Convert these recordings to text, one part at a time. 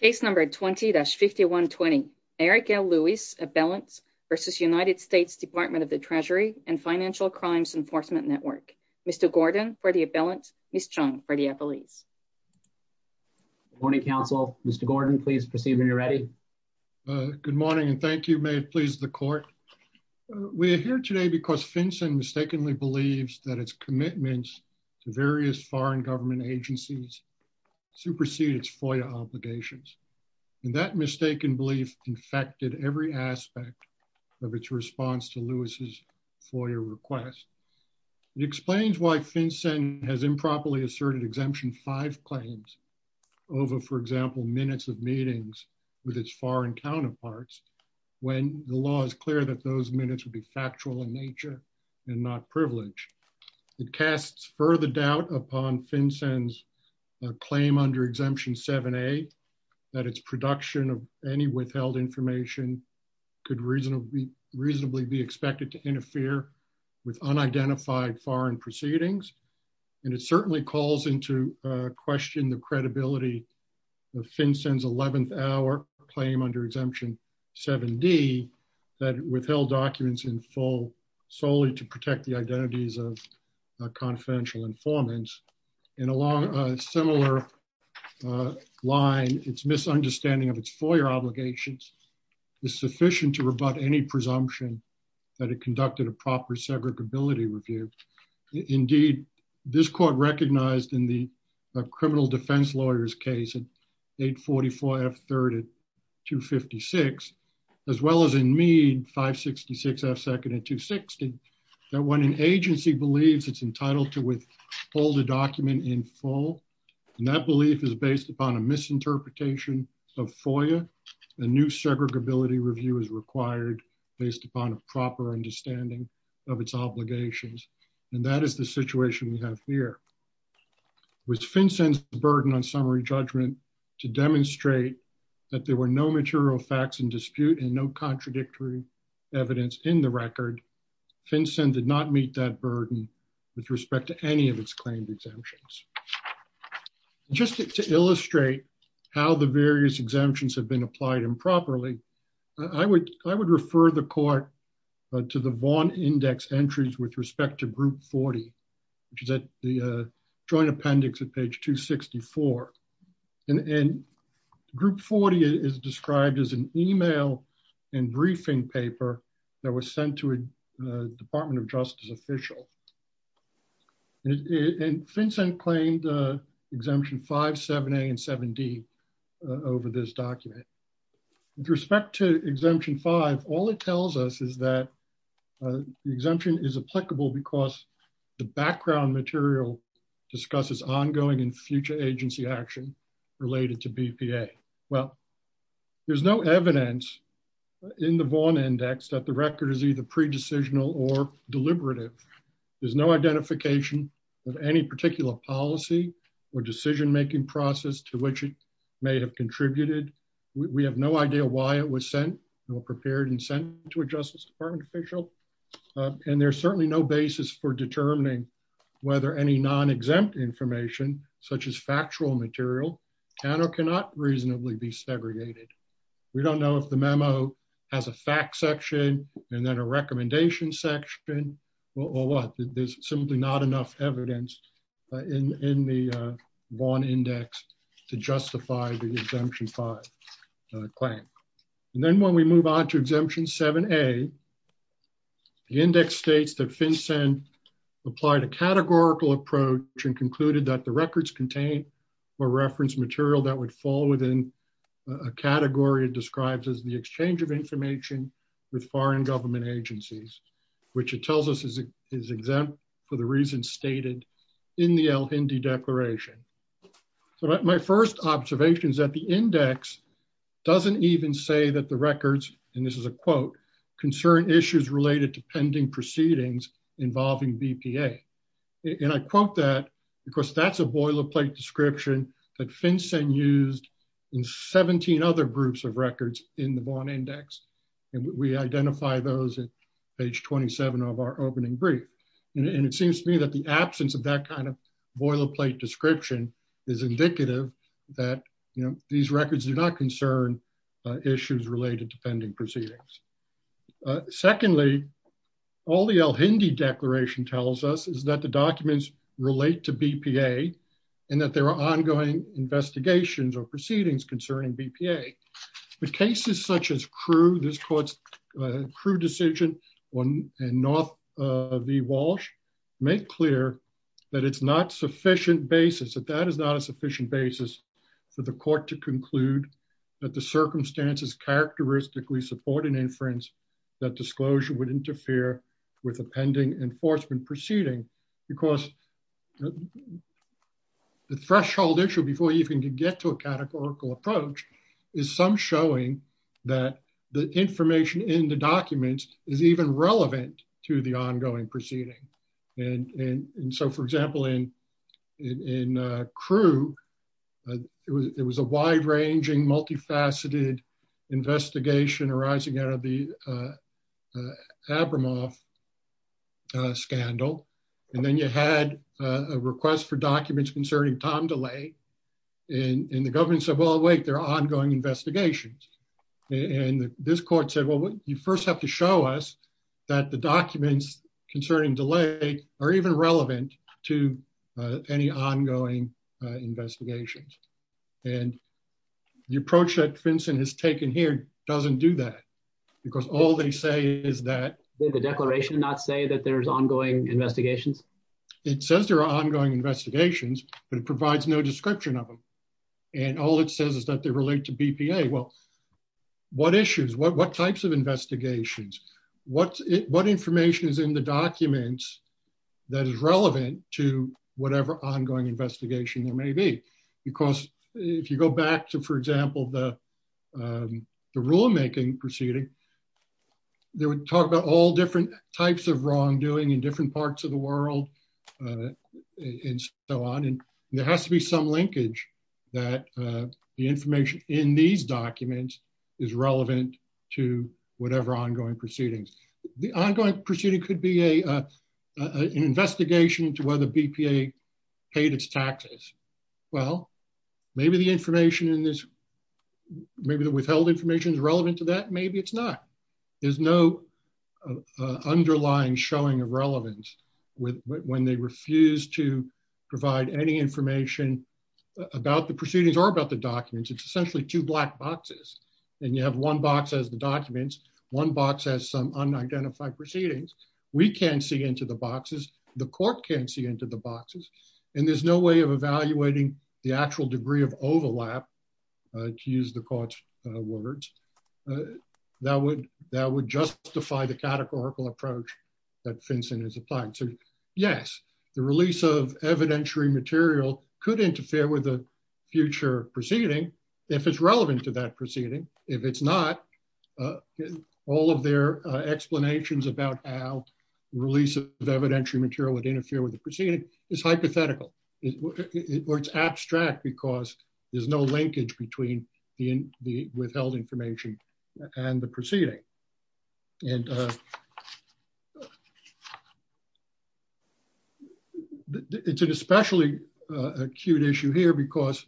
Case number 20-5120. Eric L. Lewis, Abelants v. United States Department of the Treasury and Financial Crimes Enforcement Network. Mr. Gordon for the Abelants, Ms. Chung for the Appellees. Good morning, counsel. Mr. Gordon, please proceed when you're ready. Good morning and thank you. May it please the court. We are here today because FinCEN mistakenly believes that its commitments to various foreign government agencies supersede its FOIA obligations. And that mistaken belief infected every aspect of its response to Lewis's FOIA request. It explains why FinCEN has improperly asserted exemption five claims over, for example, minutes of meetings with its foreign counterparts when the law is clear that those minutes would be factual in nature and not privileged. It casts further doubt upon FinCEN's claim under exemption 7A that its production of any withheld information could reasonably be expected to interfere with unidentified foreign proceedings. And it certainly calls into question the credibility of FinCEN's 11th hour claim under exemption 7D that withheld documents in full solely to protect the identities of confidential informants. And along a similar line, its misunderstanding of its FOIA obligations is sufficient to rebut any presumption that it conducted a proper segregability review. Indeed, this court recognized in the criminal defense lawyer's case in 844F3 at 256, as well as in Meade 566F2 at 260, that when an agency believes it's entitled to withhold a document in full, and that belief is based upon a misinterpretation of FOIA, a new segregability review is required based upon a proper understanding of its obligations. And that is the situation we have here. With FinCEN's burden on summary judgment to demonstrate that there were no material facts in dispute and no contradictory evidence in the record, FinCEN did not meet that burden with respect to any of its claimed exemptions. Just to illustrate how the various exemptions have been applied improperly, I would refer the court to the Vaughn Index entries with respect to group 40, which is at the joint appendix at page 264. And group 40 is described as an email and briefing paper that was sent to a Department of Justice official. And FinCEN claimed Exemption 5, 7A, and 7D over this document. With respect to Exemption 5, all it tells us is that the exemption is applicable because the background material discusses ongoing and future agency action related to BPA. Well, there's no evidence in the Vaughn Index that the record is either or decision-making process to which it may have contributed. We have no idea why it was sent or prepared and sent to a Justice Department official. And there's certainly no basis for determining whether any non-exempt information such as factual material can or cannot reasonably be segregated. We don't know if the memo has a fact section and then a recommendation section or what. There's simply not enough evidence in the Vaughn Index to justify the Exemption 5 claim. And then when we move on to Exemption 7A, the index states that FinCEN applied a categorical approach and concluded that the records contain or reference material that would fall within a category described as the exchange of information with foreign government agencies, which it tells us is exempt for the reasons stated in the Al-Hindi Declaration. So my first observation is that the index doesn't even say that the records, and this is a quote, concern issues related to pending proceedings involving BPA. And I quote that because that's a boilerplate description that FinCEN used in 17 other groups of records in the Vaughn Index. And we identify those at page 27 of our opening brief. And it seems to me that the absence of that kind of boilerplate description is indicative that, you know, these records do not concern issues related to pending proceedings. Secondly, all the Al-Hindi Declaration tells us is that the documents relate to BPA and that there are ongoing investigations or proceedings concerning BPA. But cases such as Crewe, this court's Crewe decision and North v. Walsh make clear that it's not sufficient basis, that that is not a sufficient basis for the court to conclude that the circumstances characteristically support an inference that disclosure would interfere with a pending enforcement proceeding because the threshold issue before you can get to a categorical approach is some showing that the information in the documents is even relevant to the ongoing proceeding. And so, for example, in Crewe, it was a wide-ranging, multifaceted investigation arising out of the Abramoff scandal. And then you had a request for documents concerning time delay. And the government said, well, wait, there are ongoing investigations. And this court said, well, you first have to show us that the documents concerning delay are even relevant to any ongoing investigations. And the approach that Finson has taken here doesn't do that because all they say is that... Did the declaration not say that there's ongoing investigations? It says there are ongoing investigations, but it provides no description of them. And all it says is that they relate to BPA. Well, what issues, what types of investigations, what information is in the documents that is relevant to whatever ongoing investigation there may be? Because if you go back to, for example, the rulemaking proceeding, they would talk about all different types of wrongdoing in different parts of the world and so on. And there has to be some linkage that the information in these documents is relevant to whatever ongoing proceedings. The ongoing proceeding could be an investigation into whether BPA paid its taxes. Well, maybe the information in this, maybe the withheld information is relevant to that. Maybe it's not. There's no underlying showing of relevance when they refuse to provide any information about the proceedings or about the documents. It's essentially two black boxes. And you have one box as the documents, one box has some unidentified proceedings. We can't see into the boxes. The court can't see into the boxes. And there's no way of evaluating the actual degree of overlap to use the court's words that would justify the categorical approach that FinCEN is applying to. Yes, the release of evidentiary material could interfere with a future proceeding if it's relevant to that proceeding. If it's not, all of their explanations about how release of evidentiary would interfere with the proceeding is hypothetical. Or it's abstract because there's no linkage between the withheld information and the proceeding. And it's an especially acute issue here because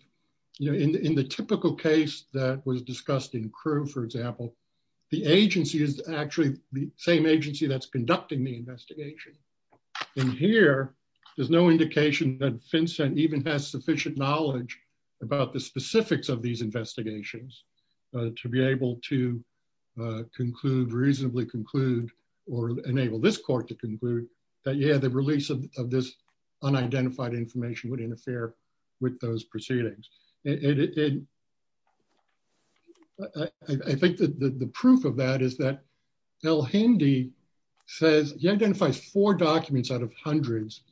in the typical case that was discussed in CRU for example, the agency is actually the same agency that's conducting the investigation. And here, there's no indication that FinCEN even has sufficient knowledge about the specifics of these investigations to be able to reasonably conclude or enable this court to conclude that yeah, the release of this unidentified information would interfere with those proceedings. And I think that the proof of that is that El-Hindi identifies four documents out of hundreds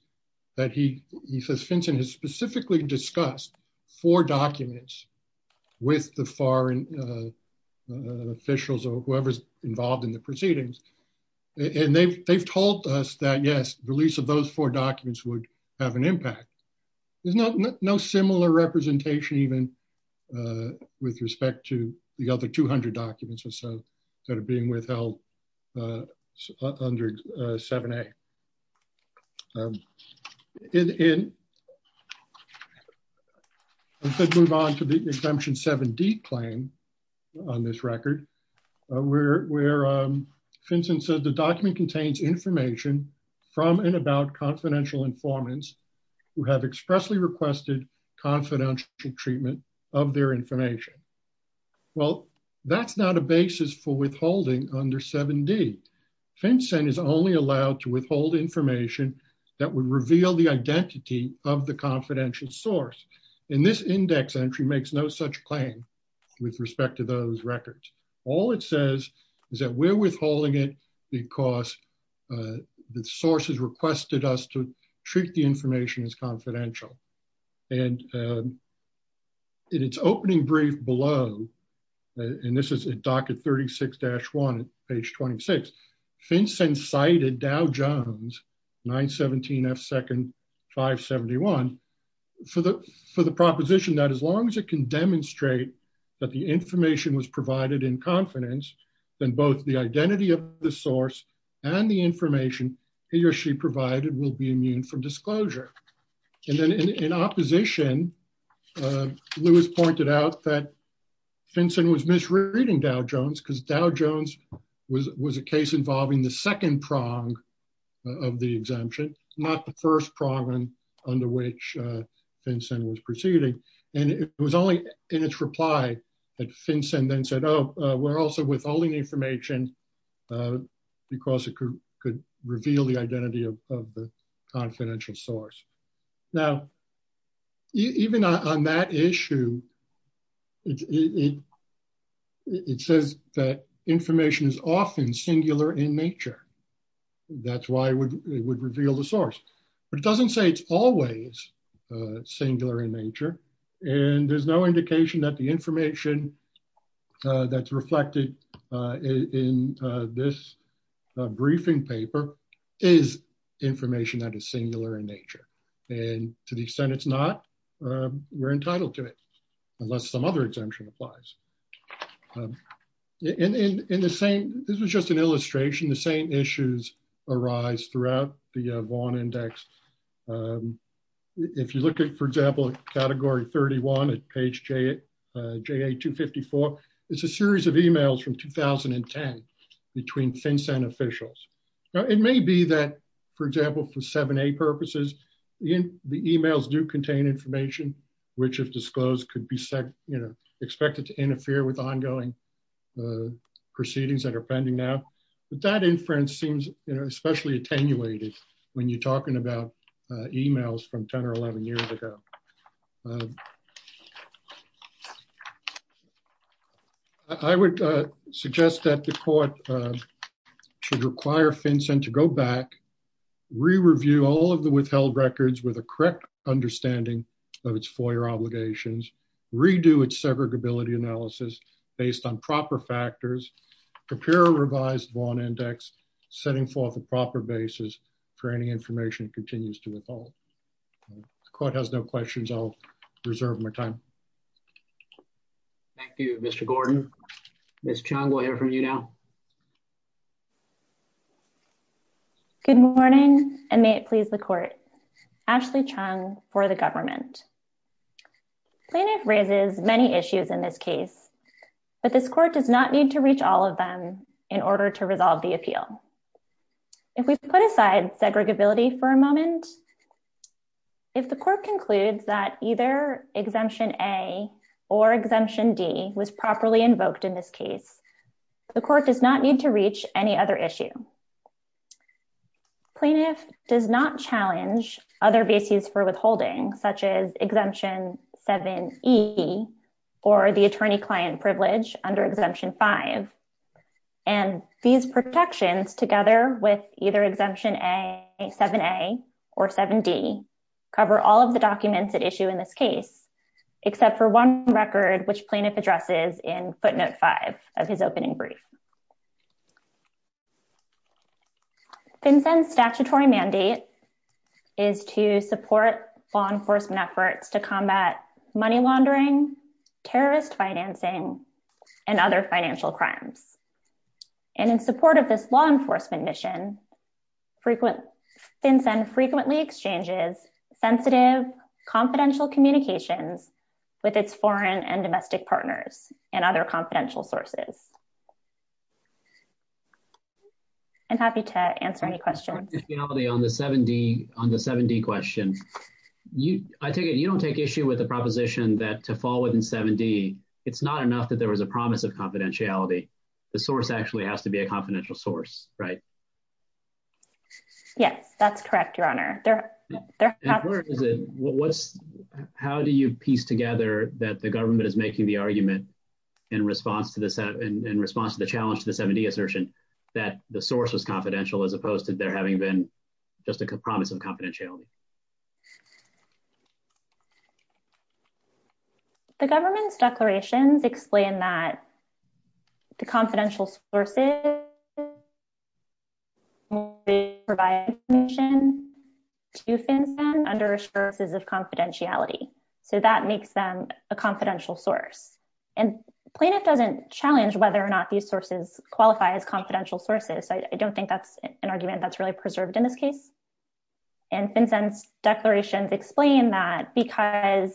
that he says FinCEN has specifically discussed, four documents with the foreign officials or whoever's involved in the proceedings. And they've told us that yes, release of those four documents would have an impact. There's no similar representation even with respect to the other 200 documents or so that are being withheld under 7A. And we could move on to the Exemption 7D claim on this record where FinCEN says the document contains information from and about confidential informants who have expressly requested confidential treatment of their information. Well, that's not a basis for withholding under 7D. FinCEN is only allowed to withhold information that would reveal the identity of the confidential source. And this index entry makes no such claim with respect to those records. All it says is we're withholding it because the sources requested us to treat the information as confidential. And in its opening brief below, and this is at docket 36-1, page 26, FinCEN cited Dow Jones, 917 F. Second, 571, for the proposition that as long as it can demonstrate that the information was provided in confidence, then both the identity of the source and the information he or she provided will be immune from disclosure. And then in opposition, Lewis pointed out that FinCEN was misreading Dow Jones because Dow Jones was a case involving the second prong of the exemption, not the first prong under which FinCEN was proceeding. And it was only in its reply that FinCEN then said, oh, we're also withholding information because it could reveal the identity of the confidential source. Now, even on that issue, it says that information is often singular in nature. That's why it would reveal the source. But it doesn't say it's always singular in nature. And there's no indication that the information that's reflected in this briefing paper is information that is singular in nature. And to the extent it's not, we're entitled to it, unless some other exemption applies. And in the same, this was just an illustration, the same issues arise throughout the Vaughan Index. If you look at, for example, category 31 at page JA254, it's a series of emails from 2010 between FinCEN officials. Now, it may be that, for example, for 7A purposes, the emails do contain information, which if disclosed could be expected to interfere with ongoing proceedings that are pending now. But that inference seems especially attenuated when you're talking about emails from 10 or 11 years ago. I would suggest that the court should require FinCEN to go back, re-review all of the withheld records with a correct understanding of its FOIA obligations, redo its segregability analysis based on proper factors, prepare a revised Vaughan Index, setting forth a proper basis for any information that continues to withhold. The court has no questions. I'll reserve my time. Thank you, Mr. Gordon. Ms. Chung, we'll hear from you now. Good morning, and may it please the court. Ashley Chung for the government. Plaintiff raises many issues in this case, but this court does not need to reach all of them in order to resolve the appeal. If we put aside segregability for a moment, if the court concludes that either Exemption A or Exemption D was properly invoked in this case, the court does not need to reach any other issue. Plaintiff does not challenge other bases for withholding, such as Exemption 7E or the attorney-client privilege under Exemption 5. And these protections, together with either Exemption 7A or 7D, cover all of the documents at issue in this case, except for one record, which plaintiff addresses in footnote 5 of his opening brief. FinCEN's statutory mandate is to support law enforcement efforts to combat money laundering, terrorist financing, and other financial crimes. And in support of this law enforcement mission, FinCEN frequently exchanges sensitive, confidential communications with its foreign and domestic partners and other confidential sources. I'm happy to answer any questions. On the 7D question, you don't take issue with the proposition that to fall within 7D, it's not enough that there was a promise of confidentiality. The source actually has to be a confidential source, right? Yes, that's correct, Your Honor. How do you piece together that the government is making the argument in response to the challenge to the 7D assertion that the source was confidential, as opposed to there having been just a promise of confidentiality? The government's declarations explain that the confidential sources provide information to FinCEN under assurances of confidentiality. So that makes them a confidential source. And plaintiff doesn't challenge whether or not these sources qualify as confidential sources. I don't think that's an argument that's really preserved in this case. And FinCEN's declarations explain that because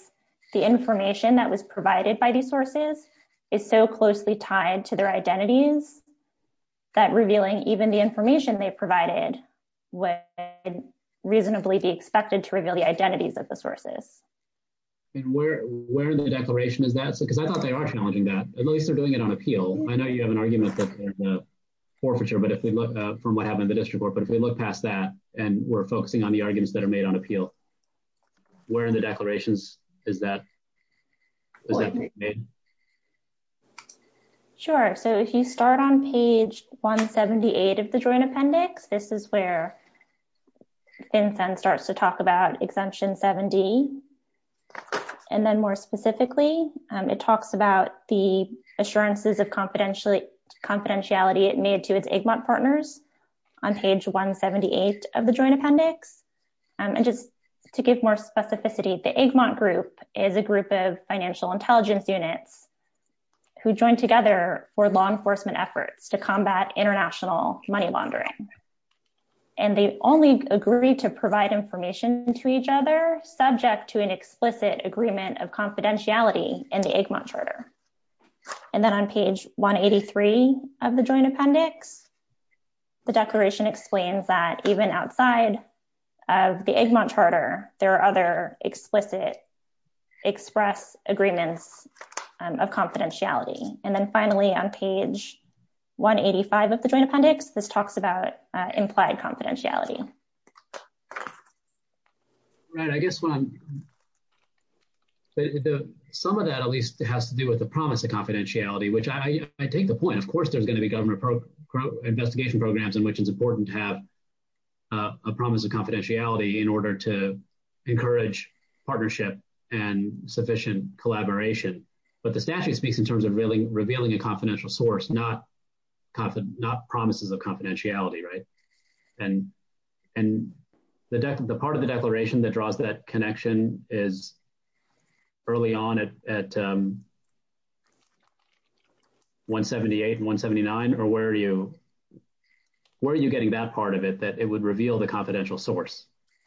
the information that was provided by these sources is so closely tied to their identities, that revealing even the information they provided would reasonably be expected to reveal the identities of the sources. And where in the declaration is that? Because I thought they are challenging that. At least they're doing it on appeal. I know you have an argument that there's a forfeiture from what and we're focusing on the arguments that are made on appeal. Where in the declarations is that? Sure. So if you start on page 178 of the joint appendix, this is where FinCEN starts to talk about exemption 7D. And then more specifically, it talks about the appendix. And just to give more specificity, the Egmont Group is a group of financial intelligence units who joined together for law enforcement efforts to combat international money laundering. And they only agree to provide information to each other subject to an explicit agreement of confidentiality in the Egmont Charter. And then on page 183 of the joint appendix, the declaration explains that even outside of the Egmont Charter, there are other explicit express agreements of confidentiality. And then finally, on page 185 of the joint appendix, this talks about implied confidentiality. Right. I guess some of that at least has to do with the promise of confidentiality, which I take the point. Of course, there's going to be government investigation programs in which it's important to have a promise of confidentiality in order to encourage partnership and sufficient collaboration. But the statute speaks in terms of revealing a confidential source, not promises of confidentiality, right? And the part of the declaration that draws that 178, 179, or where are you? Where are you getting that part of it that it would reveal the confidential source?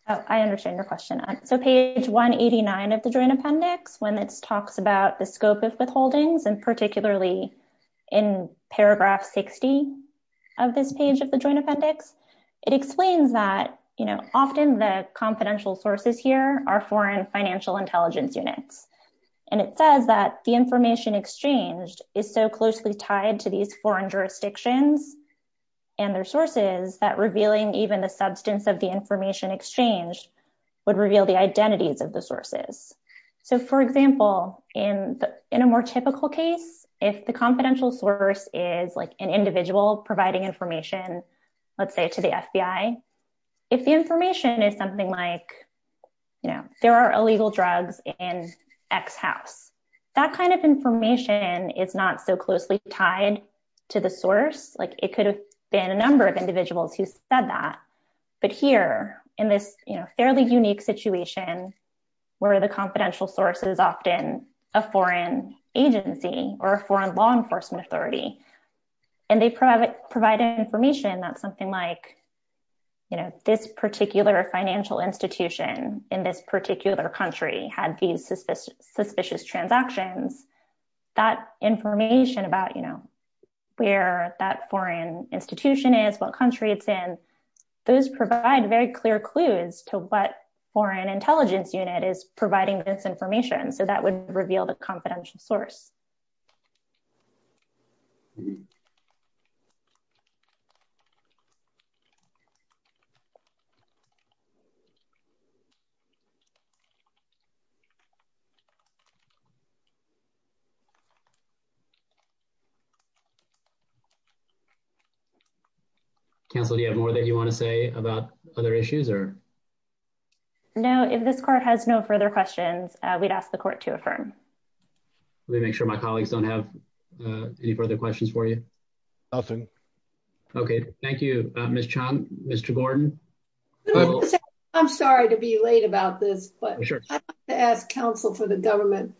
I understand your question. So page 189 of the joint appendix, when it talks about the scope of withholdings, and particularly in paragraph 60 of this page of the joint appendix, it explains that, you know, often the confidential sources here are foreign financial intelligence units. And it says that the information exchanged is so closely tied to these foreign jurisdictions and their sources that revealing even the substance of the information exchanged would reveal the identities of the sources. So for example, in a more typical case, if the confidential source is like an individual providing information, let's say to the FBI, if the information is something like, you know, there are illegal drugs in X house, that kind of information is not so closely tied to the source, like it could have been a number of individuals who said that. But here in this, you know, fairly unique situation, where the confidential source is often a foreign agency or a foreign law enforcement authority, and they provide information that's you know, this particular financial institution in this particular country had these suspicious transactions, that information about, you know, where that foreign institution is, what country it's in, those provide very clear clues to what foreign intelligence unit is providing this information. Counsel, do you have more that you want to say about other issues or? No, if this court has no further questions, we'd ask the court to affirm. Let me make sure my colleagues don't have any further questions for you. Nothing. Okay, thank you, Miss Chong, Mr. Gordon. I'm sorry to be late about this, but sure to ask counsel for the government.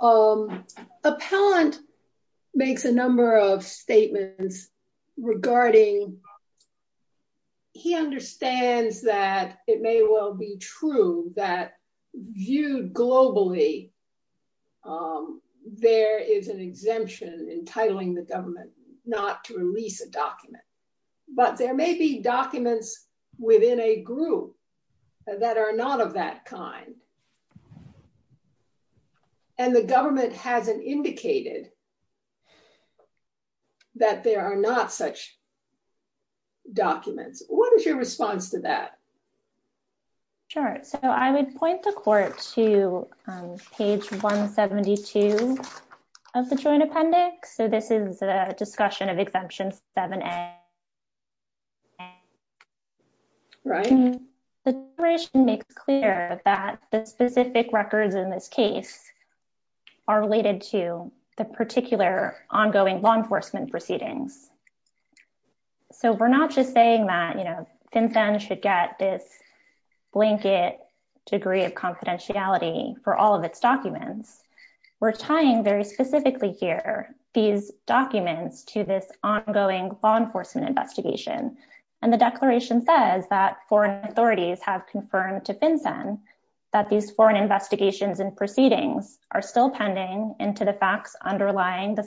Appellant makes a number of statements regarding he understands that it may well be true that viewed globally, there is an exemption entitling the government not to release a document. But there may be documents within a group that are not of that kind. And the government hasn't indicated that there are not such documents. What is your response to that? Sure, so I would point the court to page 172 of the joint appendix. So this is a discussion of exemption 7A. Right. The operation makes clear that the specific records in this case are related to the particular ongoing law enforcement proceedings. So we're not just saying that, you know, FinCEN should get this blanket degree of confidentiality for all of its documents. We're tying very specifically here, these documents to this ongoing law enforcement investigation. And the declaration says that foreign authorities have confirmed to FinCEN that these foreign investigations and proceedings are still pending into the facts underlying the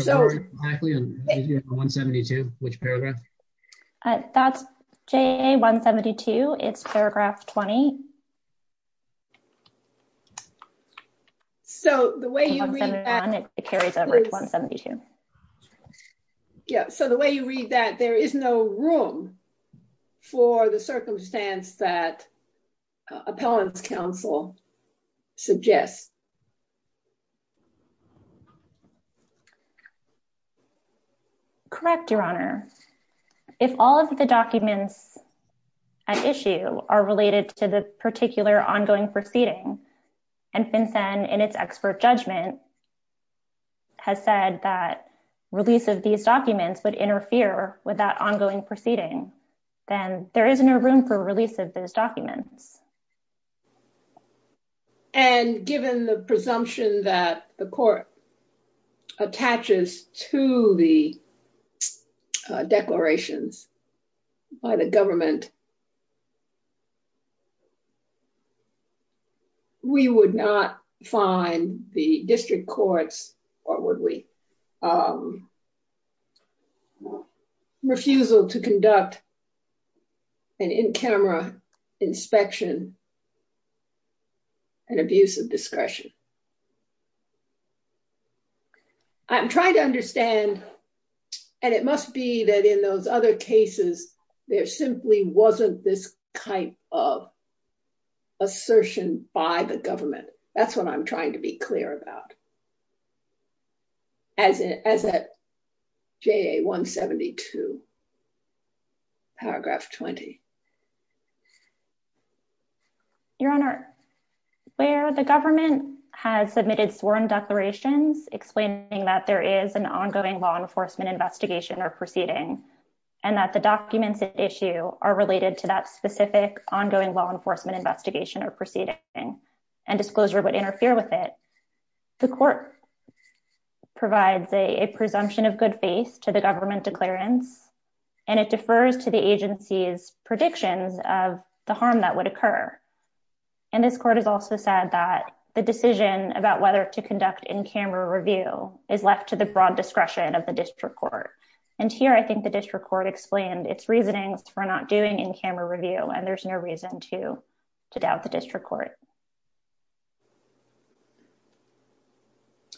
So 172, which paragraph? That's J172, it's paragraph 20. So the way you read that, it carries over to 172. Yeah, so the way you read that there is no room for the circumstance that all of the documents at issue are related to the particular ongoing proceeding. And FinCEN, in its expert judgment, has said that release of these documents would interfere with that ongoing proceeding, then there isn't a room for release of those documents. The court attaches to the declarations by the government. We would not find the district courts, or would we, refusal to conduct an in-camera inspection and abuse of discretion. I'm trying to understand, and it must be that in those other cases, there simply wasn't this kind of assertion by the government. That's what I'm trying to be clear about. As it as a J172, paragraph 20. Your Honor, where the government has submitted sworn declarations explaining that there is an ongoing law enforcement investigation or proceeding, and that the documents at issue are related to that specific ongoing law enforcement investigation or proceeding, and disclosure would interfere with it, the court provides a presumption of good faith to the harm that would occur. And this court has also said that the decision about whether to conduct in-camera review is left to the broad discretion of the district court. And here I think the district court explained its reasonings for not doing in-camera review, and there's no reason to doubt the district court.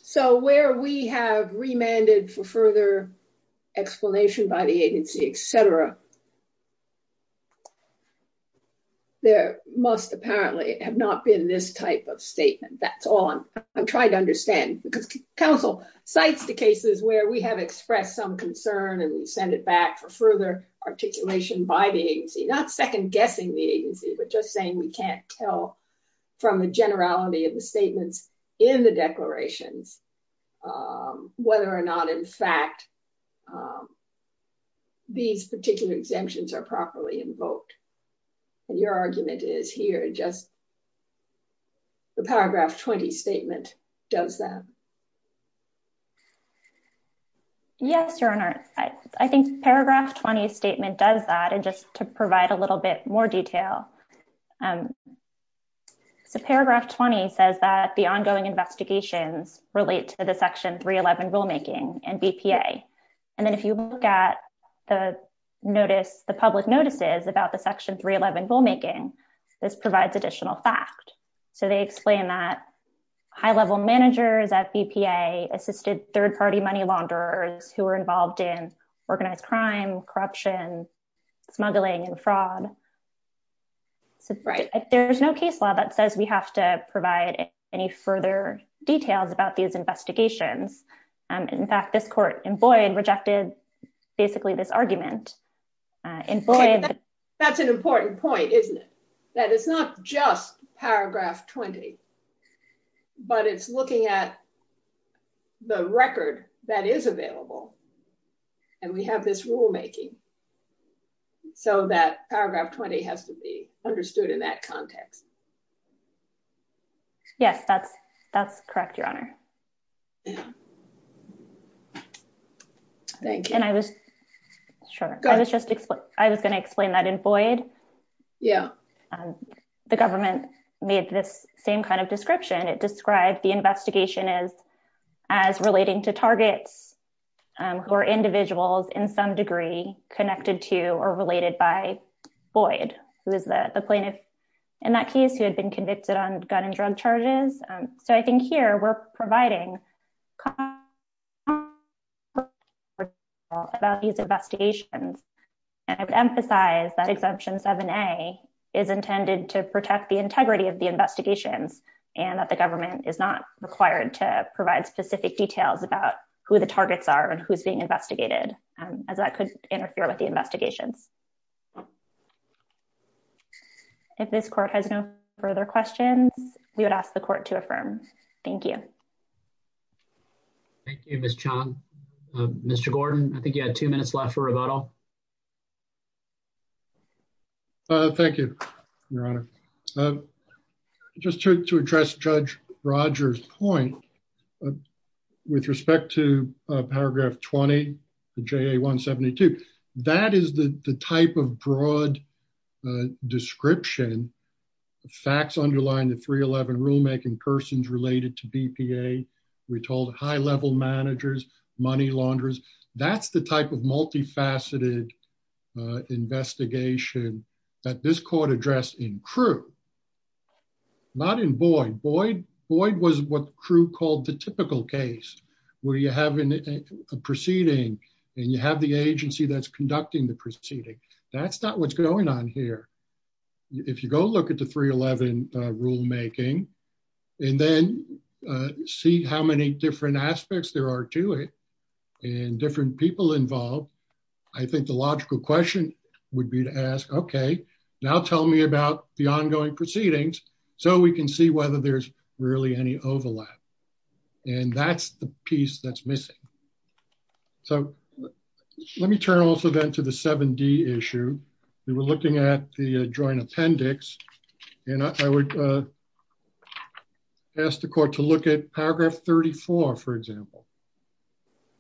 So where we have remanded for further explanation by the agency, et cetera, there must apparently have not been this type of statement. That's all I'm trying to understand, because counsel cites the cases where we have expressed some concern and we send it back for further articulation by the agency, not second-guessing the agency, but just saying we can't tell from the generality of the statements in the declarations whether or not, in fact, these particular exemptions are properly invoked. And your argument is here, just the paragraph 20 statement does that. Yes, Your Honor. I think paragraph 20 statement does that, and just to provide a little bit more detail. So paragraph 20 says that the ongoing investigations relate to the Section 311 rulemaking and BPA. And then if you look at the public notices about the Section 311 rulemaking, this provides additional fact. So they explain that high-level managers at BPA assisted third party money launderers who were involved in organized crime, corruption, smuggling, and fraud. So there's no case law that says we have to provide any further details about these courts. In fact, this court in Boyd rejected basically this argument. That's an important point, isn't it? That it's not just paragraph 20, but it's looking at the record that is available. And we have this rulemaking. So that paragraph 20 has to be understood in that context. Yes, that's correct, Your Honor. Thank you. And I was going to explain that in Boyd. Yeah. The government made this same kind of description. It described the investigation as relating to targets who are individuals in some degree connected to or related by Boyd, who is the plaintiff in that case who had been convicted on gun and drug charges. So I think here we're providing about these investigations. And I would emphasize that Exemption 7A is intended to protect the integrity of the investigations and that the government is not required to provide specific details about who the targets are and who's being investigated, as that could interfere with the investigations. If this court has no further questions, we would ask the court to affirm. Thank you. Thank you, Ms. Chong. Mr. Gordon, I think you had two minutes left for rebuttal. Thank you, Your Honor. Just to address Judge Rogers' point with respect to paragraph 20, the JA 172, that is the type of broad description, facts underlying the 311 rulemaking, persons related to BPA, we're told high-level managers, money launderers. That's the type of multifaceted investigation that this court addressed in Crew, not in Boyd. Boyd was what proceeding, and you have the agency that's conducting the proceeding. That's not what's going on here. If you go look at the 311 rulemaking and then see how many different aspects there are to it and different people involved, I think the logical question would be to ask, okay, now tell me about the ongoing proceedings so we can see whether there's really any overlap. And that's the piece that's missing. So let me turn also then to the 7D issue. We were looking at the joint appendix, and I would ask the court to look at paragraph 34, for example,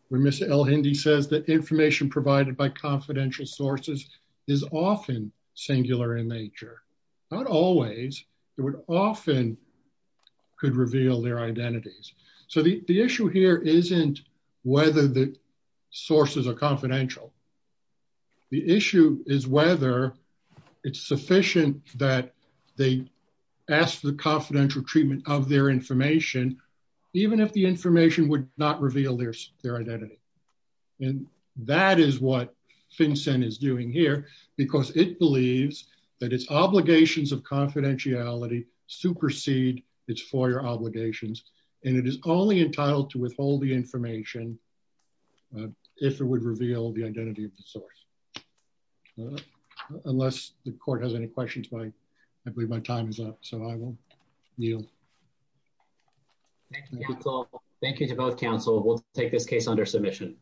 where Ms. Elhindy says that information provided by confidential sources is often singular in nature. Not always. It would often could reveal their identities. So the issue here isn't whether the sources are confidential. The issue is whether it's sufficient that they ask for the confidential treatment of their information, even if the information would not reveal their identity. And that is what confidentiality supersede its FOIA obligations, and it is only entitled to withhold the information if it would reveal the identity of the source. Unless the court has any questions, I believe my time is up, so I will yield. Thank you to both counsel. We'll take this case under submission.